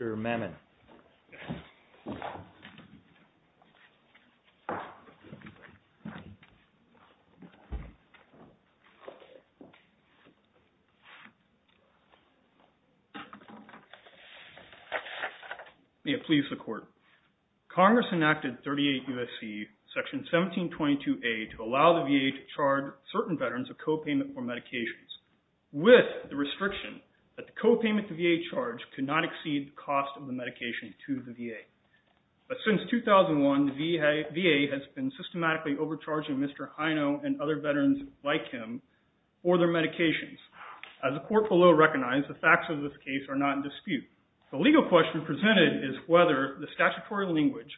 Mr. Mamon May it please the court. Congress enacted 38 U.S.C. section 1722A to allow the VA to charge certain veterans a copayment for medications with the restriction that the copayment the medication to the VA. But since 2001, the VA has been systematically overcharging Mr. Hino and other veterans like him for their medications. As the court below recognized, the facts of this case are not in dispute. The legal question presented is whether the statutory language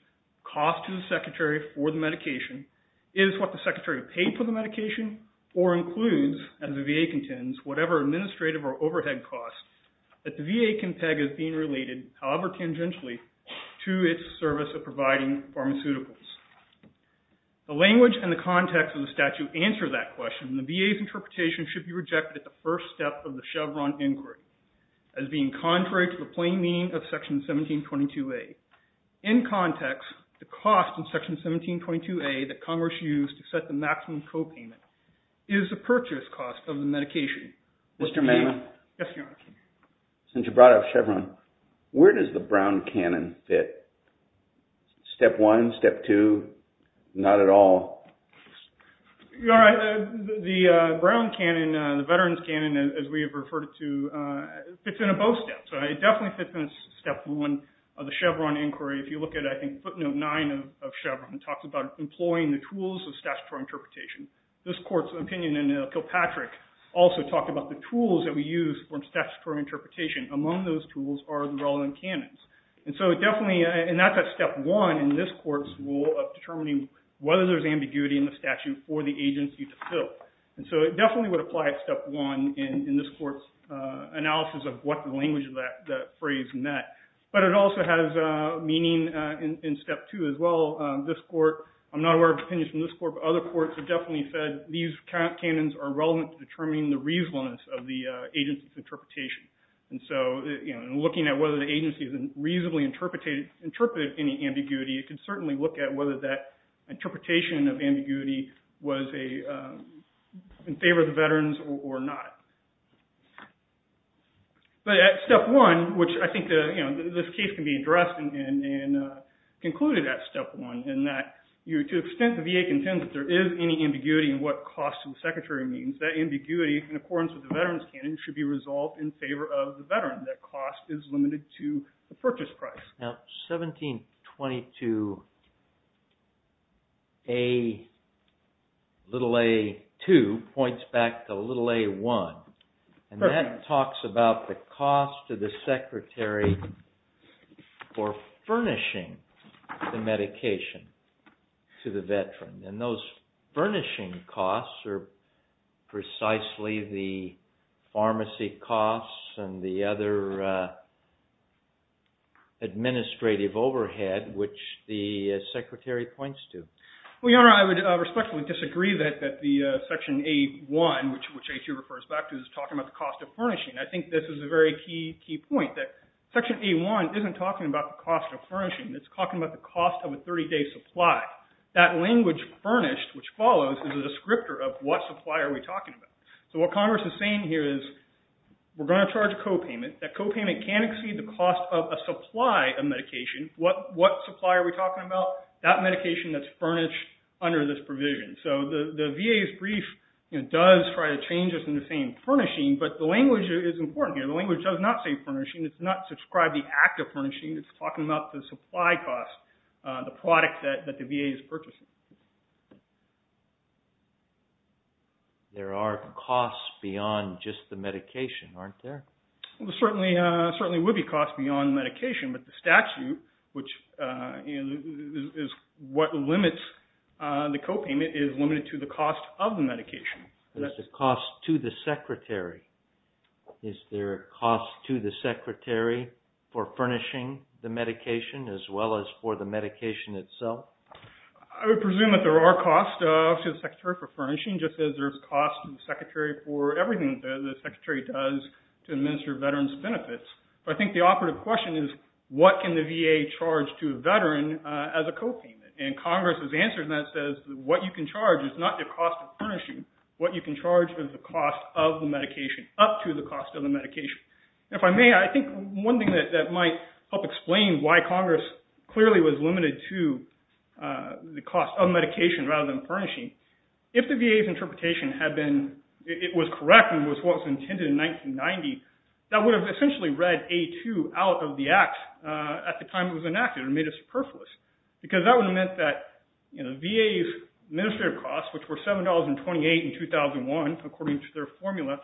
cost to the secretary for the medication is what the secretary paid for the medication or includes, as the VA contends, whatever administrative or overhead costs that the VA can peg as being related, however tangentially, to its service of providing pharmaceuticals. The language and the context of the statute answer that question. The VA's interpretation should be rejected at the first step of the Chevron inquiry as being contrary to the plain meaning of section 1722A. In context, the cost in section 1722A that Congress used to set the maximum copayment is the purchase cost of the medication. Mr. Mahan? Yes, Your Honor. Since you brought up Chevron, where does the Brown Cannon fit? Step one, step two, not at all? Your Honor, the Brown Cannon, the veterans cannon as we have referred it to, fits into both steps. It definitely fits into step one of the Chevron inquiry. If you look at, I think, footnote nine of Chevron, it talks about employing the tools of statutory interpretation. This court's opinion in Kilpatrick also talked about the tools that we use for statutory interpretation. Among those tools are the relevant cannons. And so it definitely, and that's at step one in this court's rule of determining whether there's ambiguity in the statute for the agency to fill. And so it definitely would apply at step one in this But it also has meaning in step two as well. This court, I'm not aware of opinions from this court, but other courts have definitely said these cannons are relevant to determining the reasonableness of the agency's interpretation. And so looking at whether the agency has reasonably interpreted any ambiguity, it can certainly look at whether that interpretation of ambiguity was in favor of the veterans or not. But at step one, which I think this case can be addressed and concluded at step one, in that to the extent the VA contends that there is any ambiguity in what cost to the secretary means, that ambiguity in accordance with the veterans cannon should be resolved in favor of the veteran. That cost is limited to the purchase price. Now, 1722a, little a two, points back to little a one. And that talks about the cost to the secretary for furnishing the medication to the veteran. And those furnishing costs are precisely the pharmacy costs and the other administrative overhead, which the secretary points to. Well, Your Honor, I would respectfully disagree that the section a one, which a two refers back to, is talking about the cost of furnishing. I think this is a very key point, that section a one isn't talking about the cost of furnishing. It's talking about the cost of a 30-day supply. That language furnished, which follows, is a descriptor of what supply are we talking about. So what Congress is saying here is, we're going to charge co-payment. That co-payment can exceed the cost of a supply of medication. What supply are we talking about? That medication that's furnished under this provision. So the VA's brief does try to change this in the same furnishing, but the language is important here. The language does not say furnishing. It's not described the act of furnishing. It's talking about the supply cost, the product that the VA is purchasing. There are costs beyond just the medication, aren't there? There certainly would be costs beyond medication, but the statute, which is what limits the co-payment, is limited to the cost of the medication. There's a cost to the secretary. Is there a cost to the secretary for furnishing the medication, as well as for the medication itself? I would presume that there are costs to the secretary for furnishing, just as there's costs to the secretary for everything that the secretary does to administer veterans' benefits. But I think the operative question is, what can the VA charge to a veteran as a co-payment? And Congress's answer to that says, what you can charge is not the cost of furnishing. What you can charge is the cost of the medication, up to the cost of the medication. If I may, I think one thing that might help explain why Congress clearly was limited to the cost of medication rather than furnishing, if the VA's interpretation had been, it was correct and was what was intended in 1990, that would have essentially read A2 out of the act at the time it was enacted and made it superfluous. Because that would have meant that the VA's administrative costs, which were $7.28 in 2001, according to their formula,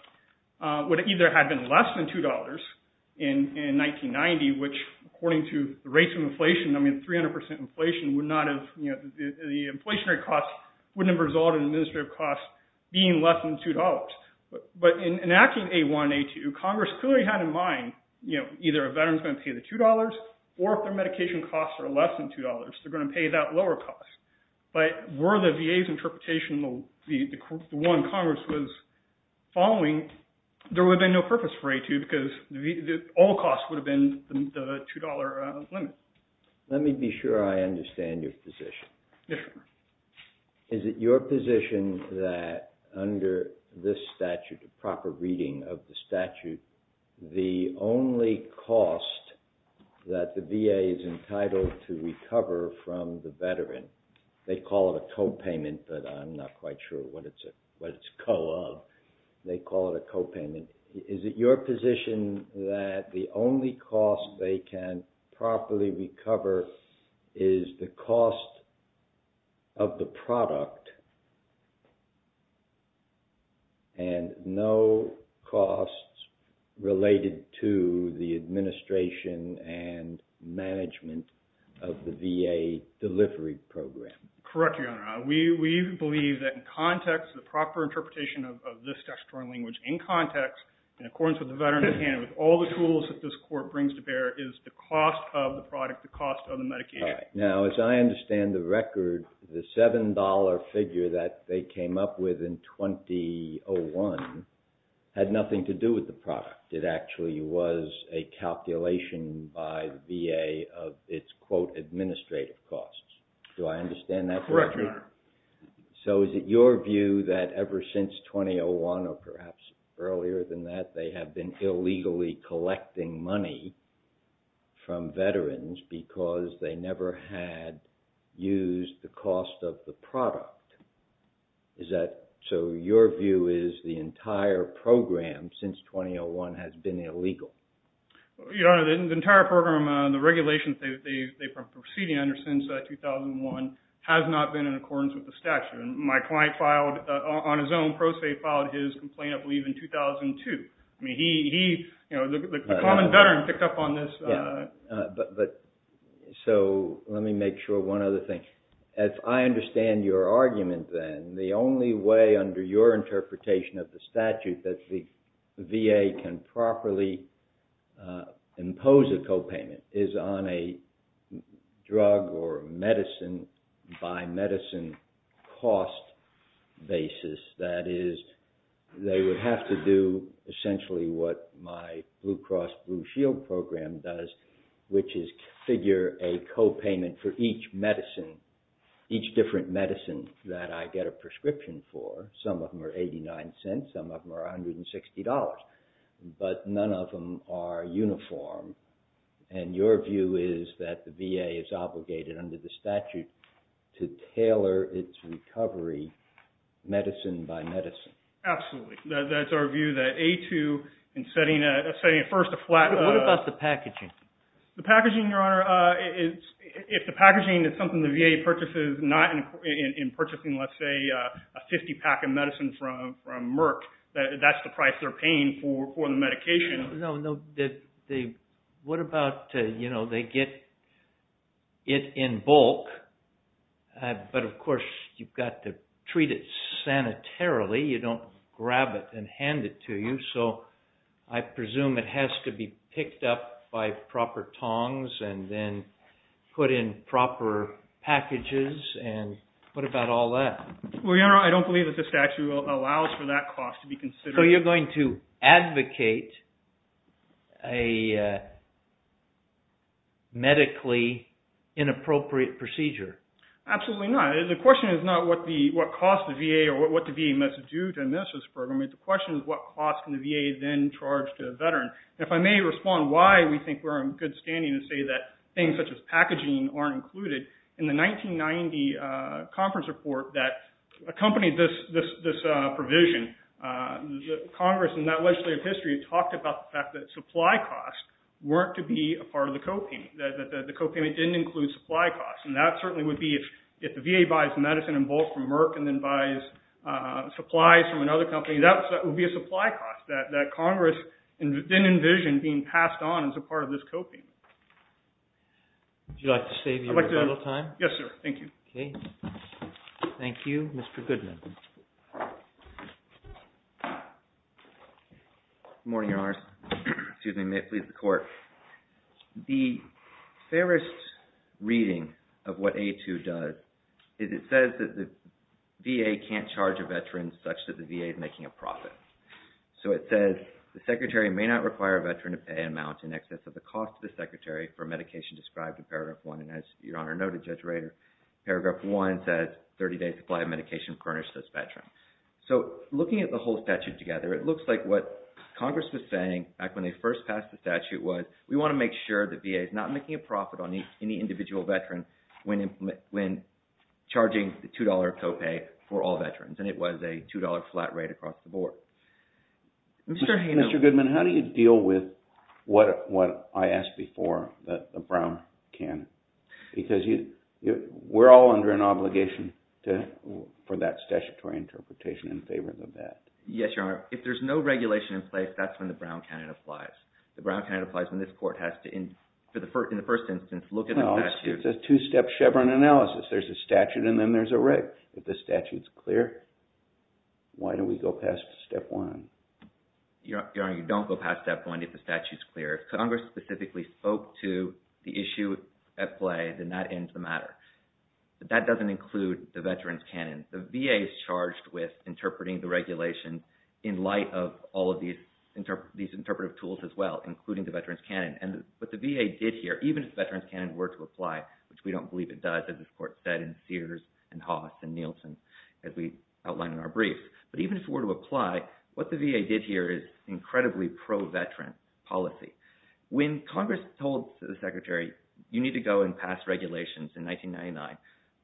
would either have been less than $2 in 1990, which, according to the rates of inflation, 300% inflation would not have, the inflationary costs wouldn't have resulted in administrative costs being less than $2. But in enacting A1 and A2, Congress clearly had in mind, either a veteran's going to pay the $2, or if their medication costs are less than $2, they're going to pay that lower cost. But were the VA's interpretation, the one Congress was following, there would have been no purpose for A2, because all costs would have been the $2 limit. Let me be sure I understand your position. Is it your position that under this statute, a proper reading of the statute, the only cost that the VA is entitled to recover from the veteran, they call it a copayment, but I'm not quite sure what it's co-of, they call it a copayment. Is it your position that the only cost they can properly recover is the cost of the product and no costs related to the administration and management of the VA delivery program? Correct, Your Honor. We believe that in of this textual language in context, in accordance with the veteran's hand, with all the tools that this court brings to bear, is the cost of the product, the cost of the medication. Now, as I understand the record, the $7 figure that they came up with in 2001 had nothing to do with the product. It actually was a calculation by the VA of its, quote, administrative costs. Do I understand that? Correct, Your Honor. So is it your view that ever since 2001 or perhaps earlier than that, they have been illegally collecting money from veterans because they never had used the cost of the product? Is that, so your view is the entire program since 2001 has been illegal? Your Honor, the entire program, the regulations they've been proceeding under since 2001 has not been in accordance with the statute. My client filed, on his own pro se, filed his complaint, I believe, in 2002. I mean, he, you know, the common veteran picked up on this. But, so let me make sure one other thing. As I understand your argument, then, the only way under your interpretation of the statute that the VA can properly impose a copayment is on a drug or medicine by medicine cost basis. That is, they would have to do essentially what my Blue Cross Blue Shield program does, which is configure a copayment for each medicine, each different medicine that I get a prescription for. Some of them are 89 cents, some of them are under the statute to tailor its recovery medicine by medicine. Absolutely. That's our view that A2, in setting a first, a flat... What about the packaging? The packaging, Your Honor, if the packaging is something the VA purchases not in purchasing, let's say, a 50-pack of medicine from Merck, that's the price they're paying for the medication. No, no. What about, you know, they get it in bulk, but of course you've got to treat it sanitarily. You don't grab it and hand it to you. So I presume it has to be picked up by proper tongs and then put in proper packages. And what about all that? Well, Your Honor, I don't believe that the statute allows for that cost to be considered. So you're going to advocate a medically inappropriate procedure? Absolutely not. The question is not what cost the VA or what the VA must do to administer this program. The question is what cost can the VA then charge to a veteran? If I may respond why we think we're in good standing to say that things such as packaging aren't included, in the 1990 conference report that accompanied this provision, Congress in that legislative history talked about the fact that supply costs weren't to be a part of the co-payment. The co-payment didn't include supply costs. And that certainly would be if the VA buys medicine in bulk from Merck and then buys supplies from another company, that would be a supply cost that Congress didn't envision being passed on as a part of this co-payment. Would you like to save your little time? Yes, sir. Thank you. Thank you. Mr. Goodman. Good morning, Your Honors. Excuse me. May it please the court. The fairest reading of what A2 does is it says that the VA can't charge a veteran such that the VA is making a profit. So it says the secretary may not require a veteran to pay an amount in excess of the cost the secretary for medication described in paragraph one. And as Your Honor noted, Judge Rader, paragraph one says 30 days supply of medication furnished as veteran. So looking at the whole statute together, it looks like what Congress was saying back when they first passed the statute was we want to make sure the VA is not making a profit on any individual veteran when charging the $2 co-pay for all veterans. And it was a $2 flat rate across the board. Mr. Goodman, how do you deal with what I asked before that the Brown can? Because we're all under an obligation for that statutory interpretation in favor of the vet. Yes, Your Honor. If there's no regulation in place, that's when the Brown canon applies. The Brown canon applies when this court has to, in the first instance, look at the statute. It's a two-step Chevron analysis. There's a statute and then there's a rate. If the Your Honor, you don't go past that point if the statute is clear. If Congress specifically spoke to the issue at play, then that ends the matter. But that doesn't include the veteran's canon. The VA is charged with interpreting the regulation in light of all of these interpretive tools as well, including the veteran's canon. And what the VA did here, even if the veteran's canon were to apply, which we don't believe it does as this court said in Sears and Haas and Nielsen as we outlined in our brief, but even if it were to apply, what the VA did here is incredibly pro-veteran policy. When Congress told the Secretary, you need to go and pass regulations in 1999,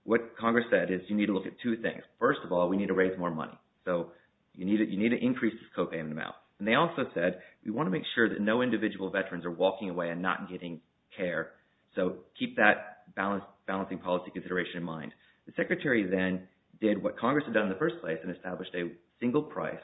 what Congress said is you need to look at two things. First of all, we need to raise more money. So you need to increase this copayment amount. And they also said, we want to make sure that no individual veterans are walking away and not getting care. So keep that balancing policy consideration in mind. The Secretary then did what Congress had done in the first place and established a single price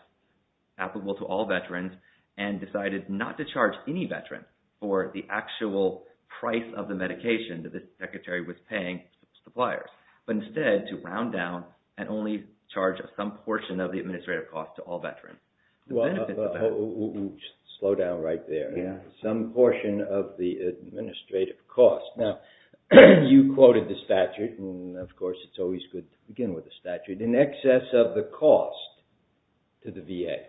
applicable to all veterans and decided not to charge any veteran for the actual price of the medication that the Secretary was paying to suppliers, but instead to round down and only charge some portion of the administrative cost to all veterans. Well, slow down right there. Some portion of the administrative cost. Now, you quoted the statute, and of course, it's always good to begin with the statute, in excess of the cost to the VA.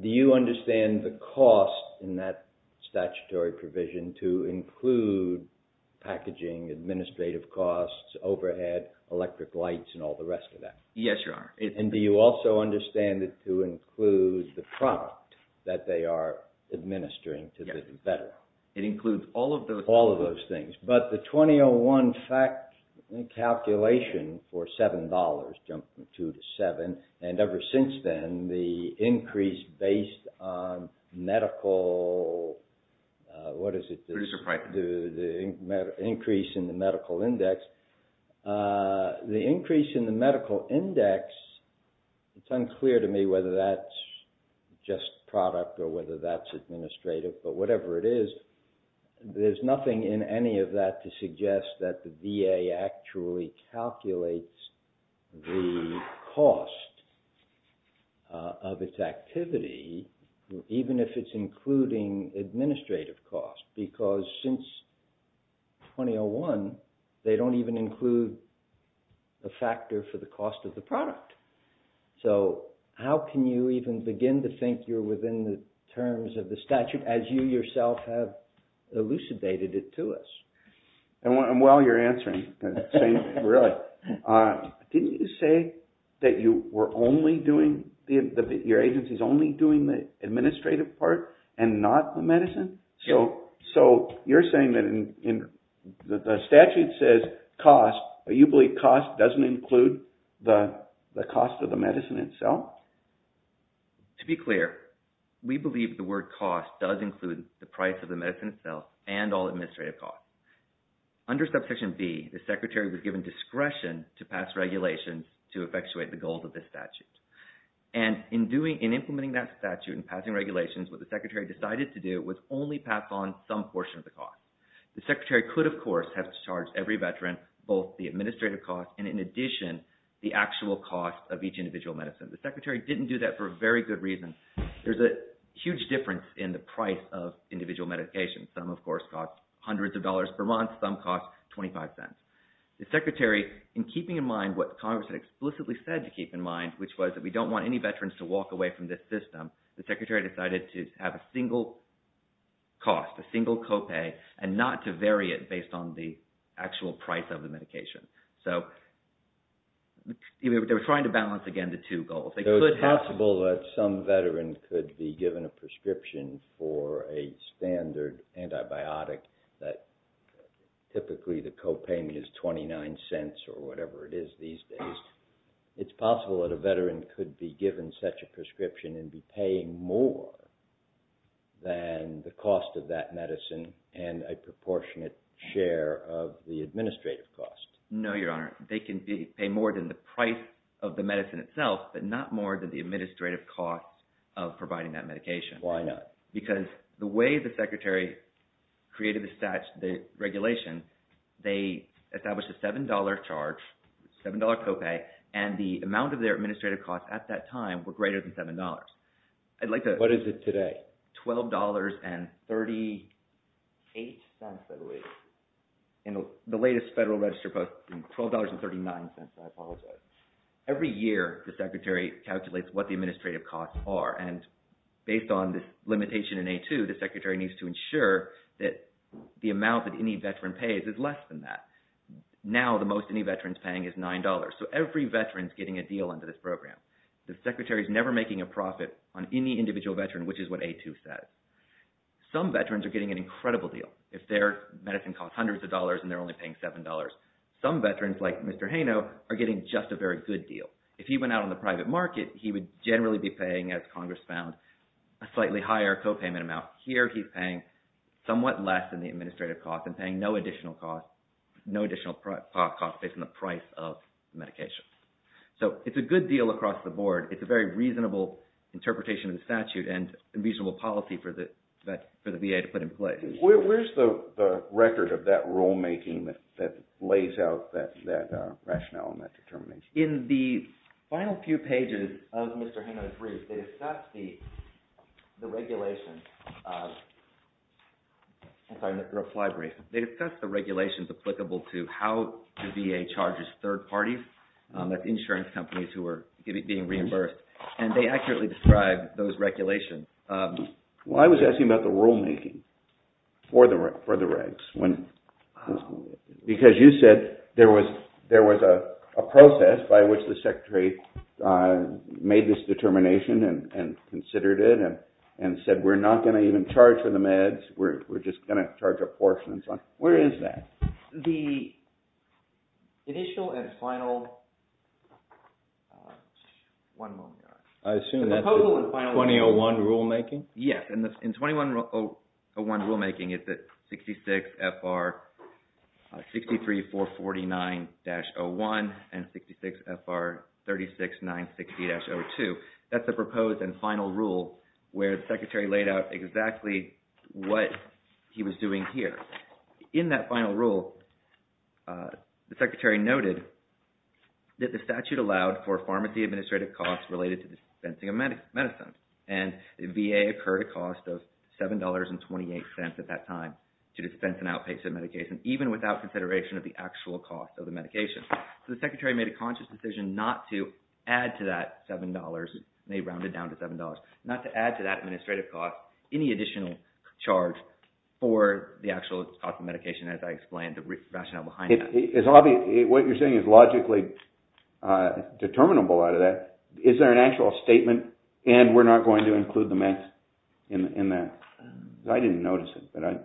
Do you understand the cost in that statutory provision to include packaging, administrative costs, overhead, electric lights, and all the rest of that? Yes, Your Honor. And do you also understand it to include the product that they are administering to the veteran? It includes all of those things. But the 2001 calculation for $7 jumped from $2 to $7. And ever since then, the increase based on medical, what is it? The increase in the medical index. The increase in the medical index, it's unclear to me whether that's just product or whether that's but whatever it is, there's nothing in any of that to suggest that the VA actually calculates the cost of its activity, even if it's including administrative costs. Because since 2001, they don't even include a factor for the cost of the product. So how can you even begin to within the terms of the statute as you yourself have elucidated it to us? And while you're answering, didn't you say that your agency is only doing the administrative part and not the medicine? So you're saying that the statute says cost, but you believe cost doesn't include the cost of the medicine itself? To be clear, we believe the word cost does include the price of the medicine itself and all administrative costs. Under subsection B, the secretary was given discretion to pass regulations to effectuate the goals of this statute. And in implementing that statute and passing regulations, what the secretary decided to do was only pass on some portion of the cost. The secretary could, of course, have to charge every veteran both the administrative cost and in addition, the actual cost of each individual medicine. The secretary didn't do that for a very good reason. There's a huge difference in the price of individual medication. Some, of course, cost hundreds of dollars per month. Some cost 25 cents. The secretary, in keeping in mind what Congress had explicitly said to keep in mind, which was that we don't want any veterans to walk away from this system, the secretary decided to have a single cost, a single copay, and not to vary it based on the actual price of the medication. So they were trying to balance, again, the two goals. So it's possible that some veteran could be given a prescription for a standard antibiotic that typically the copay is 29 cents or whatever it is these days. It's possible that a veteran could be given such a prescription and be paying more than the cost of that medicine and a proportionate share of the administrative cost. No, Your Honor. They can pay more than the price of the medicine itself, but not more than the administrative cost of providing that medication. Why not? Because the way the secretary created the regulation, they established a $7 charge, $7 copay, and the amount of their administrative costs at that time were greater than $7. What is it today? $12.38, by the way, in the latest federal register post, $12.39, I apologize. Every year, the secretary calculates what the administrative costs are, and based on this limitation in A2, the secretary needs to ensure that the amount that any veteran pays is less than that. Now, the most any veteran's paying is $9, so every veteran's getting a deal under this program. The secretary's never making a profit on any individual veteran, which is what A2 says. Some veterans are getting an incredible deal if their medicine costs hundreds of dollars and they're only paying $7. Some veterans, like Mr. Haino, are getting just a very good deal. If he went out on the private market, he would generally be paying, as Congress found, a slightly higher copayment amount. Here, he's paying somewhat less than the administrative cost and paying no additional cost, no additional cost based on the price of the medication. It's a good deal across the board. It's a very reasonable interpretation of the statute and a reasonable policy for the VA to put in place. Where's the record of that rulemaking that lays out that rationale and that determination? In the final few pages of Mr. Haino's reply brief, they discuss the regulations applicable to how the VA charges third parties, that's insurance companies who are being reimbursed, and they accurately describe those regulations. Well, I was asking about the rulemaking for the regs. Because you said there was a process by which the secretary made this determination and considered it and said, we're not going to even charge for the meds. We're just going to charge a portion. Where is that? The initial and final one moment. I assume that's 2001 rulemaking? Yes. In 2101 rulemaking, it's at 66 FR 63449-01 and 66 FR 36960-02. That's the proposed and final rule where the secretary laid out exactly what he was doing here. In that final rule, the secretary noted that the statute allowed for pharmacy administrative costs related to dispensing of medicine. And the VA occurred a cost of $7.28 at that time to dispense an outpatient medication, even without consideration of the actual cost of the medication. So the secretary made a conscious decision not to round it down to $7, not to add to that administrative cost any additional charge for the actual cost of medication, as I explained the rationale behind that. What you're saying is logically determinable out of that. Is there an actual statement, and we're not going to include the meds in that? I didn't notice it.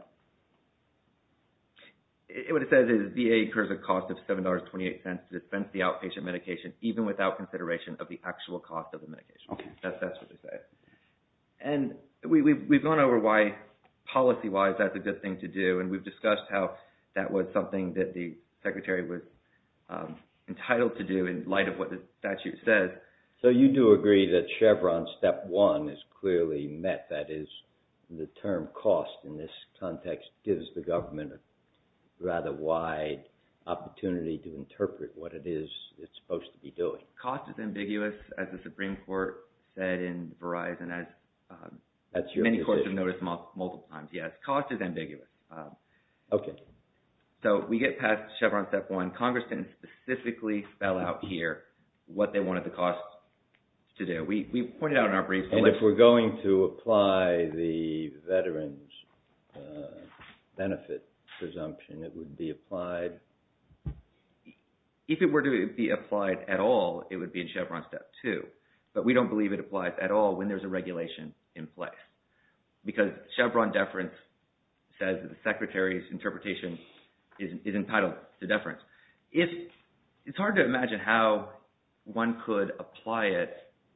What it says is VA occurs a cost of $7.28 to dispense the medication. That's what it says. And we've gone over why policy-wise that's a good thing to do, and we've discussed how that was something that the secretary was entitled to do in light of what the statute says. So you do agree that Chevron step one is clearly met, that is the term cost in this context gives the government a rather wide opportunity to interpret what it is it's said in Verizon, as many courts have noticed multiple times. Yes, cost is ambiguous. Okay. So we get past Chevron step one. Congress didn't specifically spell out here what they wanted the cost to do. We pointed out in our brief. And if we're going to apply the veterans benefit presumption, it would be applied? If it were to be applied at all, it would be in Chevron step two, but we don't believe it applies at all when there's a regulation in place. Because Chevron deference says that the secretary's interpretation is entitled to deference. It's hard to imagine how one could apply it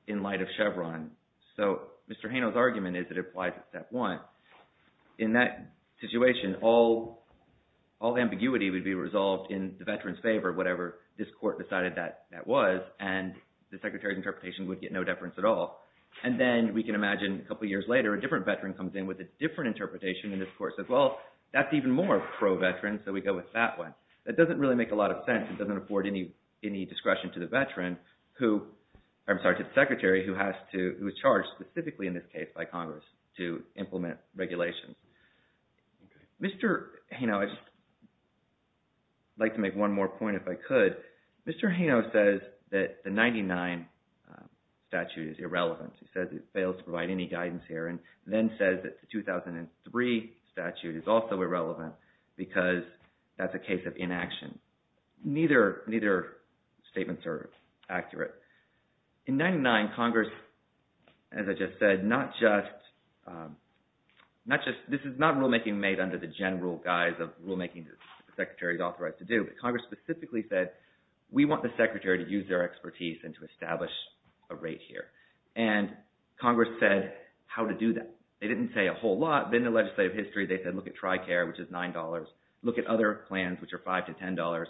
in light of Chevron. So Mr. Hano's argument is that it applies at step one. In that situation, all ambiguity would be resolved in the veteran's favor, whatever this court decided that that was, and the secretary's interpretation would get no deference at all. And then we can imagine a couple of years later, a different veteran comes in with a different interpretation. And this court says, well, that's even more pro-veteran. So we go with that one. That doesn't really make a lot of sense. It doesn't afford any discretion to the secretary who was charged specifically in this case by Congress to Mr. Hano says that the 99 statute is irrelevant. He says it fails to provide any guidance here, and then says that the 2003 statute is also irrelevant because that's a case of inaction. Neither statements are accurate. In 99, Congress, as I just said, not just, this is not rulemaking made under the general guise of rulemaking that the secretary is charged with. Congress specifically said, we want the secretary to use their expertise and to establish a rate here. And Congress said how to do that. They didn't say a whole lot. Then the legislative history, they said, look at TRICARE, which is $9. Look at other plans, which are $5 to $10.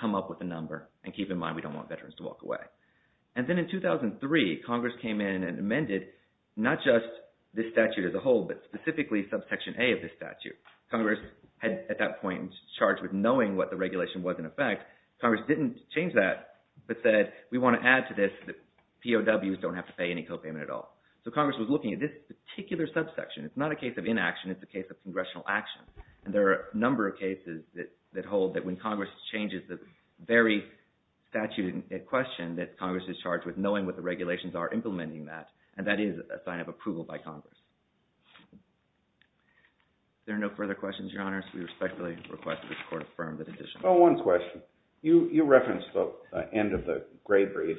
Come up with a number and keep in mind, we don't want veterans to walk away. And then in 2003, Congress came in and amended, not just the statute as a whole, but specifically subsection A of the statute. Congress had at that point charged with knowing what the regulation was in effect. Congress didn't change that, but said, we want to add to this that POWs don't have to pay any copayment at all. So Congress was looking at this particular subsection. It's not a case of inaction. It's a case of congressional action. And there are a number of cases that hold that when Congress changes the very statute in question that Congress is charged with knowing what the regulations are implementing that, and that is a sign of approval by Congress. There are no further questions, Your Honors. We respectfully request that this Court affirm the decision. Oh, one question. You referenced the end of the gray brief.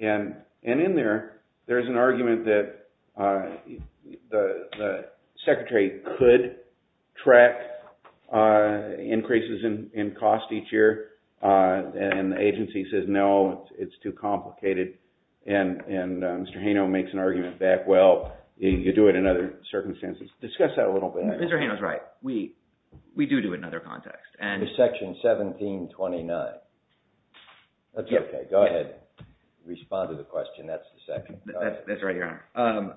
And in there, there's an argument that the Secretary could track increases in cost each year, and the agency says, no, it's too complicated. And Mr. Hano makes an argument that, well, you do it in other circumstances. Discuss that a little bit. Mr. Hano's right. We do do it in their context. Section 1729. That's okay. Go ahead. Respond to the question. That's the section. That's right, Your Honor.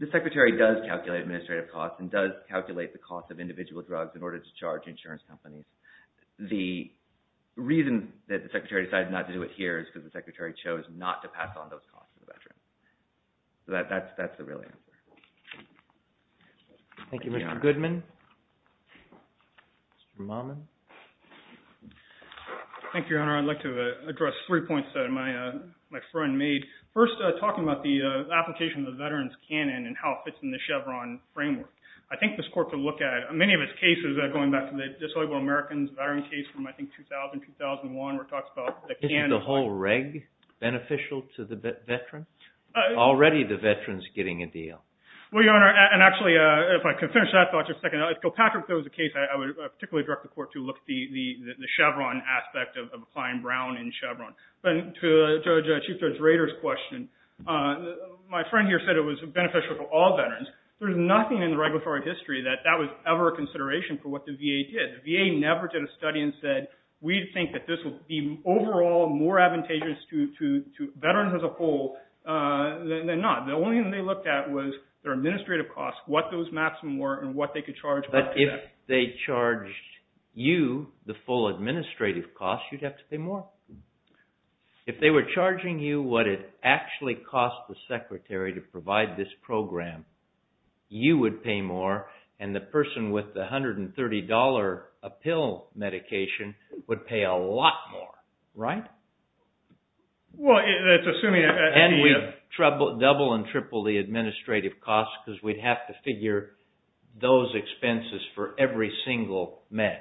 The Secretary does calculate administrative costs and does calculate the cost of individual drugs in order to charge insurance companies. The reason that the Secretary decided not to do it here is because the Secretary chose not to pass on those costs to the veterans. So that's the real answer. Thank you, Mr. Goodman. Mr. Momin. Thank you, Your Honor. I'd like to address three points that my friend made. First, talking about the application of the veterans' canon and how it fits in the Chevron framework. I think this Court could look at many of its cases, going back to the Disabled Americans veteran case from, I think, 2000, 2001, where it talks about the canon. Isn't the whole reg beneficial to the veteran? Already, the veteran's getting a deal. Well, Your Honor, and actually, if I could finish that thought just a second. At Kilpatrick, there was a case I would particularly direct the Court to look at the Chevron aspect of applying Brown in Chevron. But to Chief Judge Rader's question, my friend here said it was beneficial to all veterans. There's nothing in the regulatory history that that was ever a consideration for what the VA did. The VA never did a study and said, we think that this will be overall more advantageous to veterans as a whole than not. The only thing they looked at was their administrative costs, what those maximum were, and what they could charge up to that. But if they charged you the full administrative costs, you'd have to pay more. If they were charging you what it actually cost the Secretary to provide this program, you would pay more, and the person with the $130 pill medication would pay a lot more, right? Well, it's assuming... And we double and triple the administrative costs because we'd have to figure those expenses for every single med.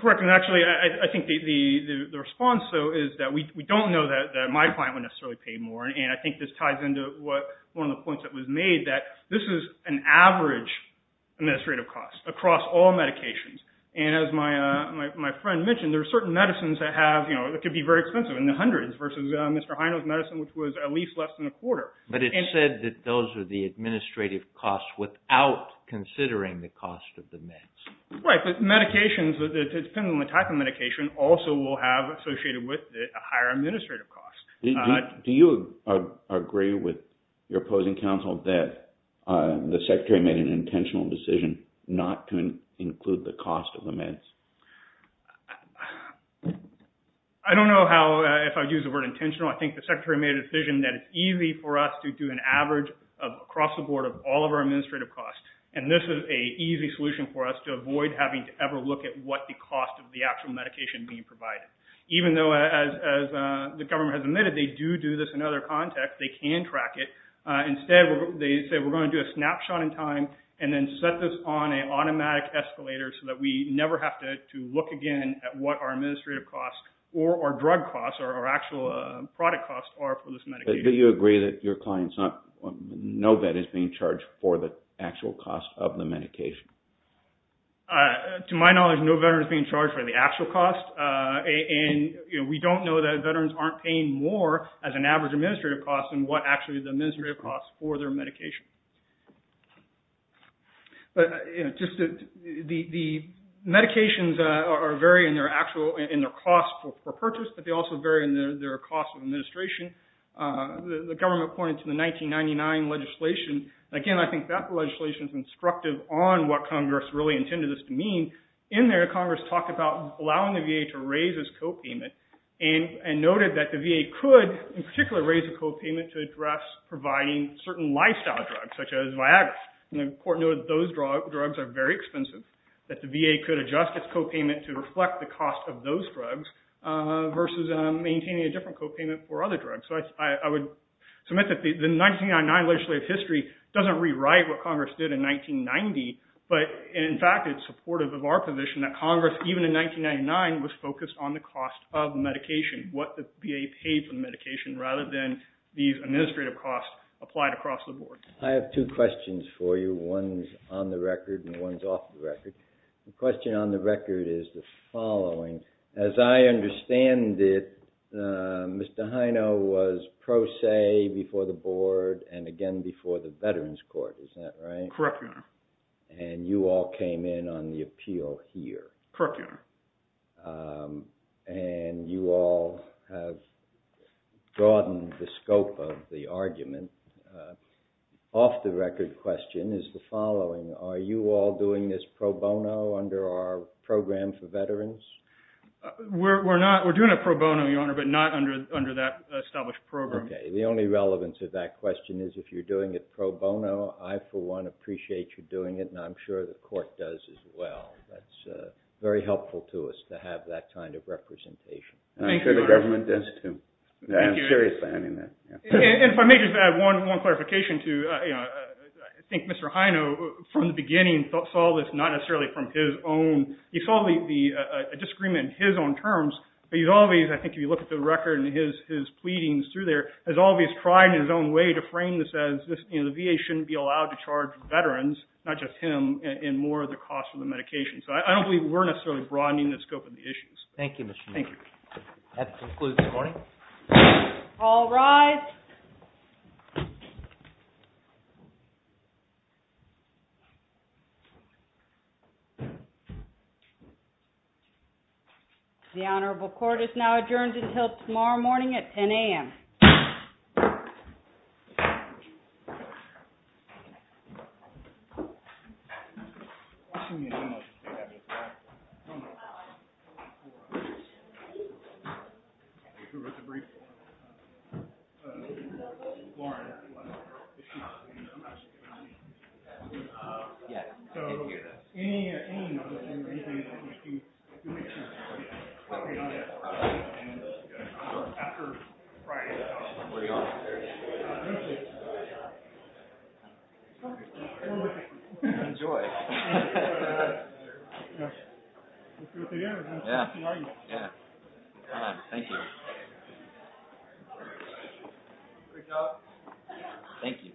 Correct. And actually, I think the response, though, is that we don't know that my client would necessarily pay more. And I think this ties into one of the points that was made that this is an average administrative cost across all medications. And as my friend mentioned, there are certain medicines that could be very expensive in the hundreds versus Mr. Hino's medicine, which was at least less than a quarter. But it said that those are the administrative costs without considering the cost of the meds. Right. But medications, depending on the type of medication, also will have associated with it a higher administrative cost. Do you agree with your opposing counsel that the Secretary made an intentional decision not to include the cost of the meds? Well, I don't know if I would use the word intentional. I think the Secretary made a decision that it's easy for us to do an average across the board of all of our administrative costs. And this is a easy solution for us to avoid having to ever look at what the cost of the actual medication being provided. Even though, as the government has admitted, they do do this in other contexts, they can track it. Instead, they say, we're going to do a snapshot in time and then set this on an automatic escalator so that we never have to look again at what our administrative costs or our drug costs or our actual product costs are for this medication. Do you agree that no vet is being charged for the actual cost of the medication? To my knowledge, no veteran is being charged for the actual cost. And we don't know that veterans aren't paying more as an average administrative cost than what actually the in their cost for purchase, but they also vary in their cost of administration. The government pointed to the 1999 legislation. Again, I think that legislation is instructive on what Congress really intended this to mean. In there, Congress talked about allowing the VA to raise its copayment and noted that the VA could, in particular, raise the copayment to address providing certain lifestyle drugs, such as Viagra. And the court noted those drugs are very expensive, that the VA could adjust its copayment to reflect the cost of those drugs versus maintaining a different copayment for other drugs. So I would submit that the 1999 legislative history doesn't rewrite what Congress did in 1990. But in fact, it's supportive of our position that Congress, even in 1999, was focused on the cost of medication, what the VA paid for the medication rather than these administrative costs applied across the board. I have two questions for you. One's on the record and one's off the record. The question on the record is the following. As I understand it, Mr. Hino was pro se before the board and again before the Veterans Court. Is that right? Correct, Your Honor. And you all came in on the appeal here. Correct, Your Honor. And you all have broadened the scope of the argument. Off the record question is the following. Are you all doing this pro bono under our program for veterans? We're not. We're doing it pro bono, Your Honor, but not under that established program. Okay. The only relevance of that question is if you're doing it pro bono, I, for one, appreciate you doing it and I'm sure the court does as well. That's very helpful to us to have that kind of representation. And I'm sure the government does too. I'm serious about having that. And if I may just add one clarification to, you know, I think Mr. Hino from the beginning saw this not necessarily from his own. He saw the disagreement in his own terms, but he's always, I think if you look at the record and his pleadings through there, has always tried in his own way to frame this as, you know, the VA shouldn't be allowed to charge veterans, not just him, in more of the cost of the medication. So I don't believe we're necessarily broadening the scope of the issues. Thank you, Mr. Hino. Thank you. That concludes this morning. All rise. The Honorable Court is now adjourned until tomorrow morning at 10 a.m. Where are you going? Enjoy. Yeah, yeah. Thank you. Thank you. Thank you.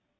What do you think? Yeah. Have a good day. Thank you. Okay. Right. All right. Thank. Silence. Silence. Silence. Silence. Silence. Silence. Silence. Silence. Silence. Silence.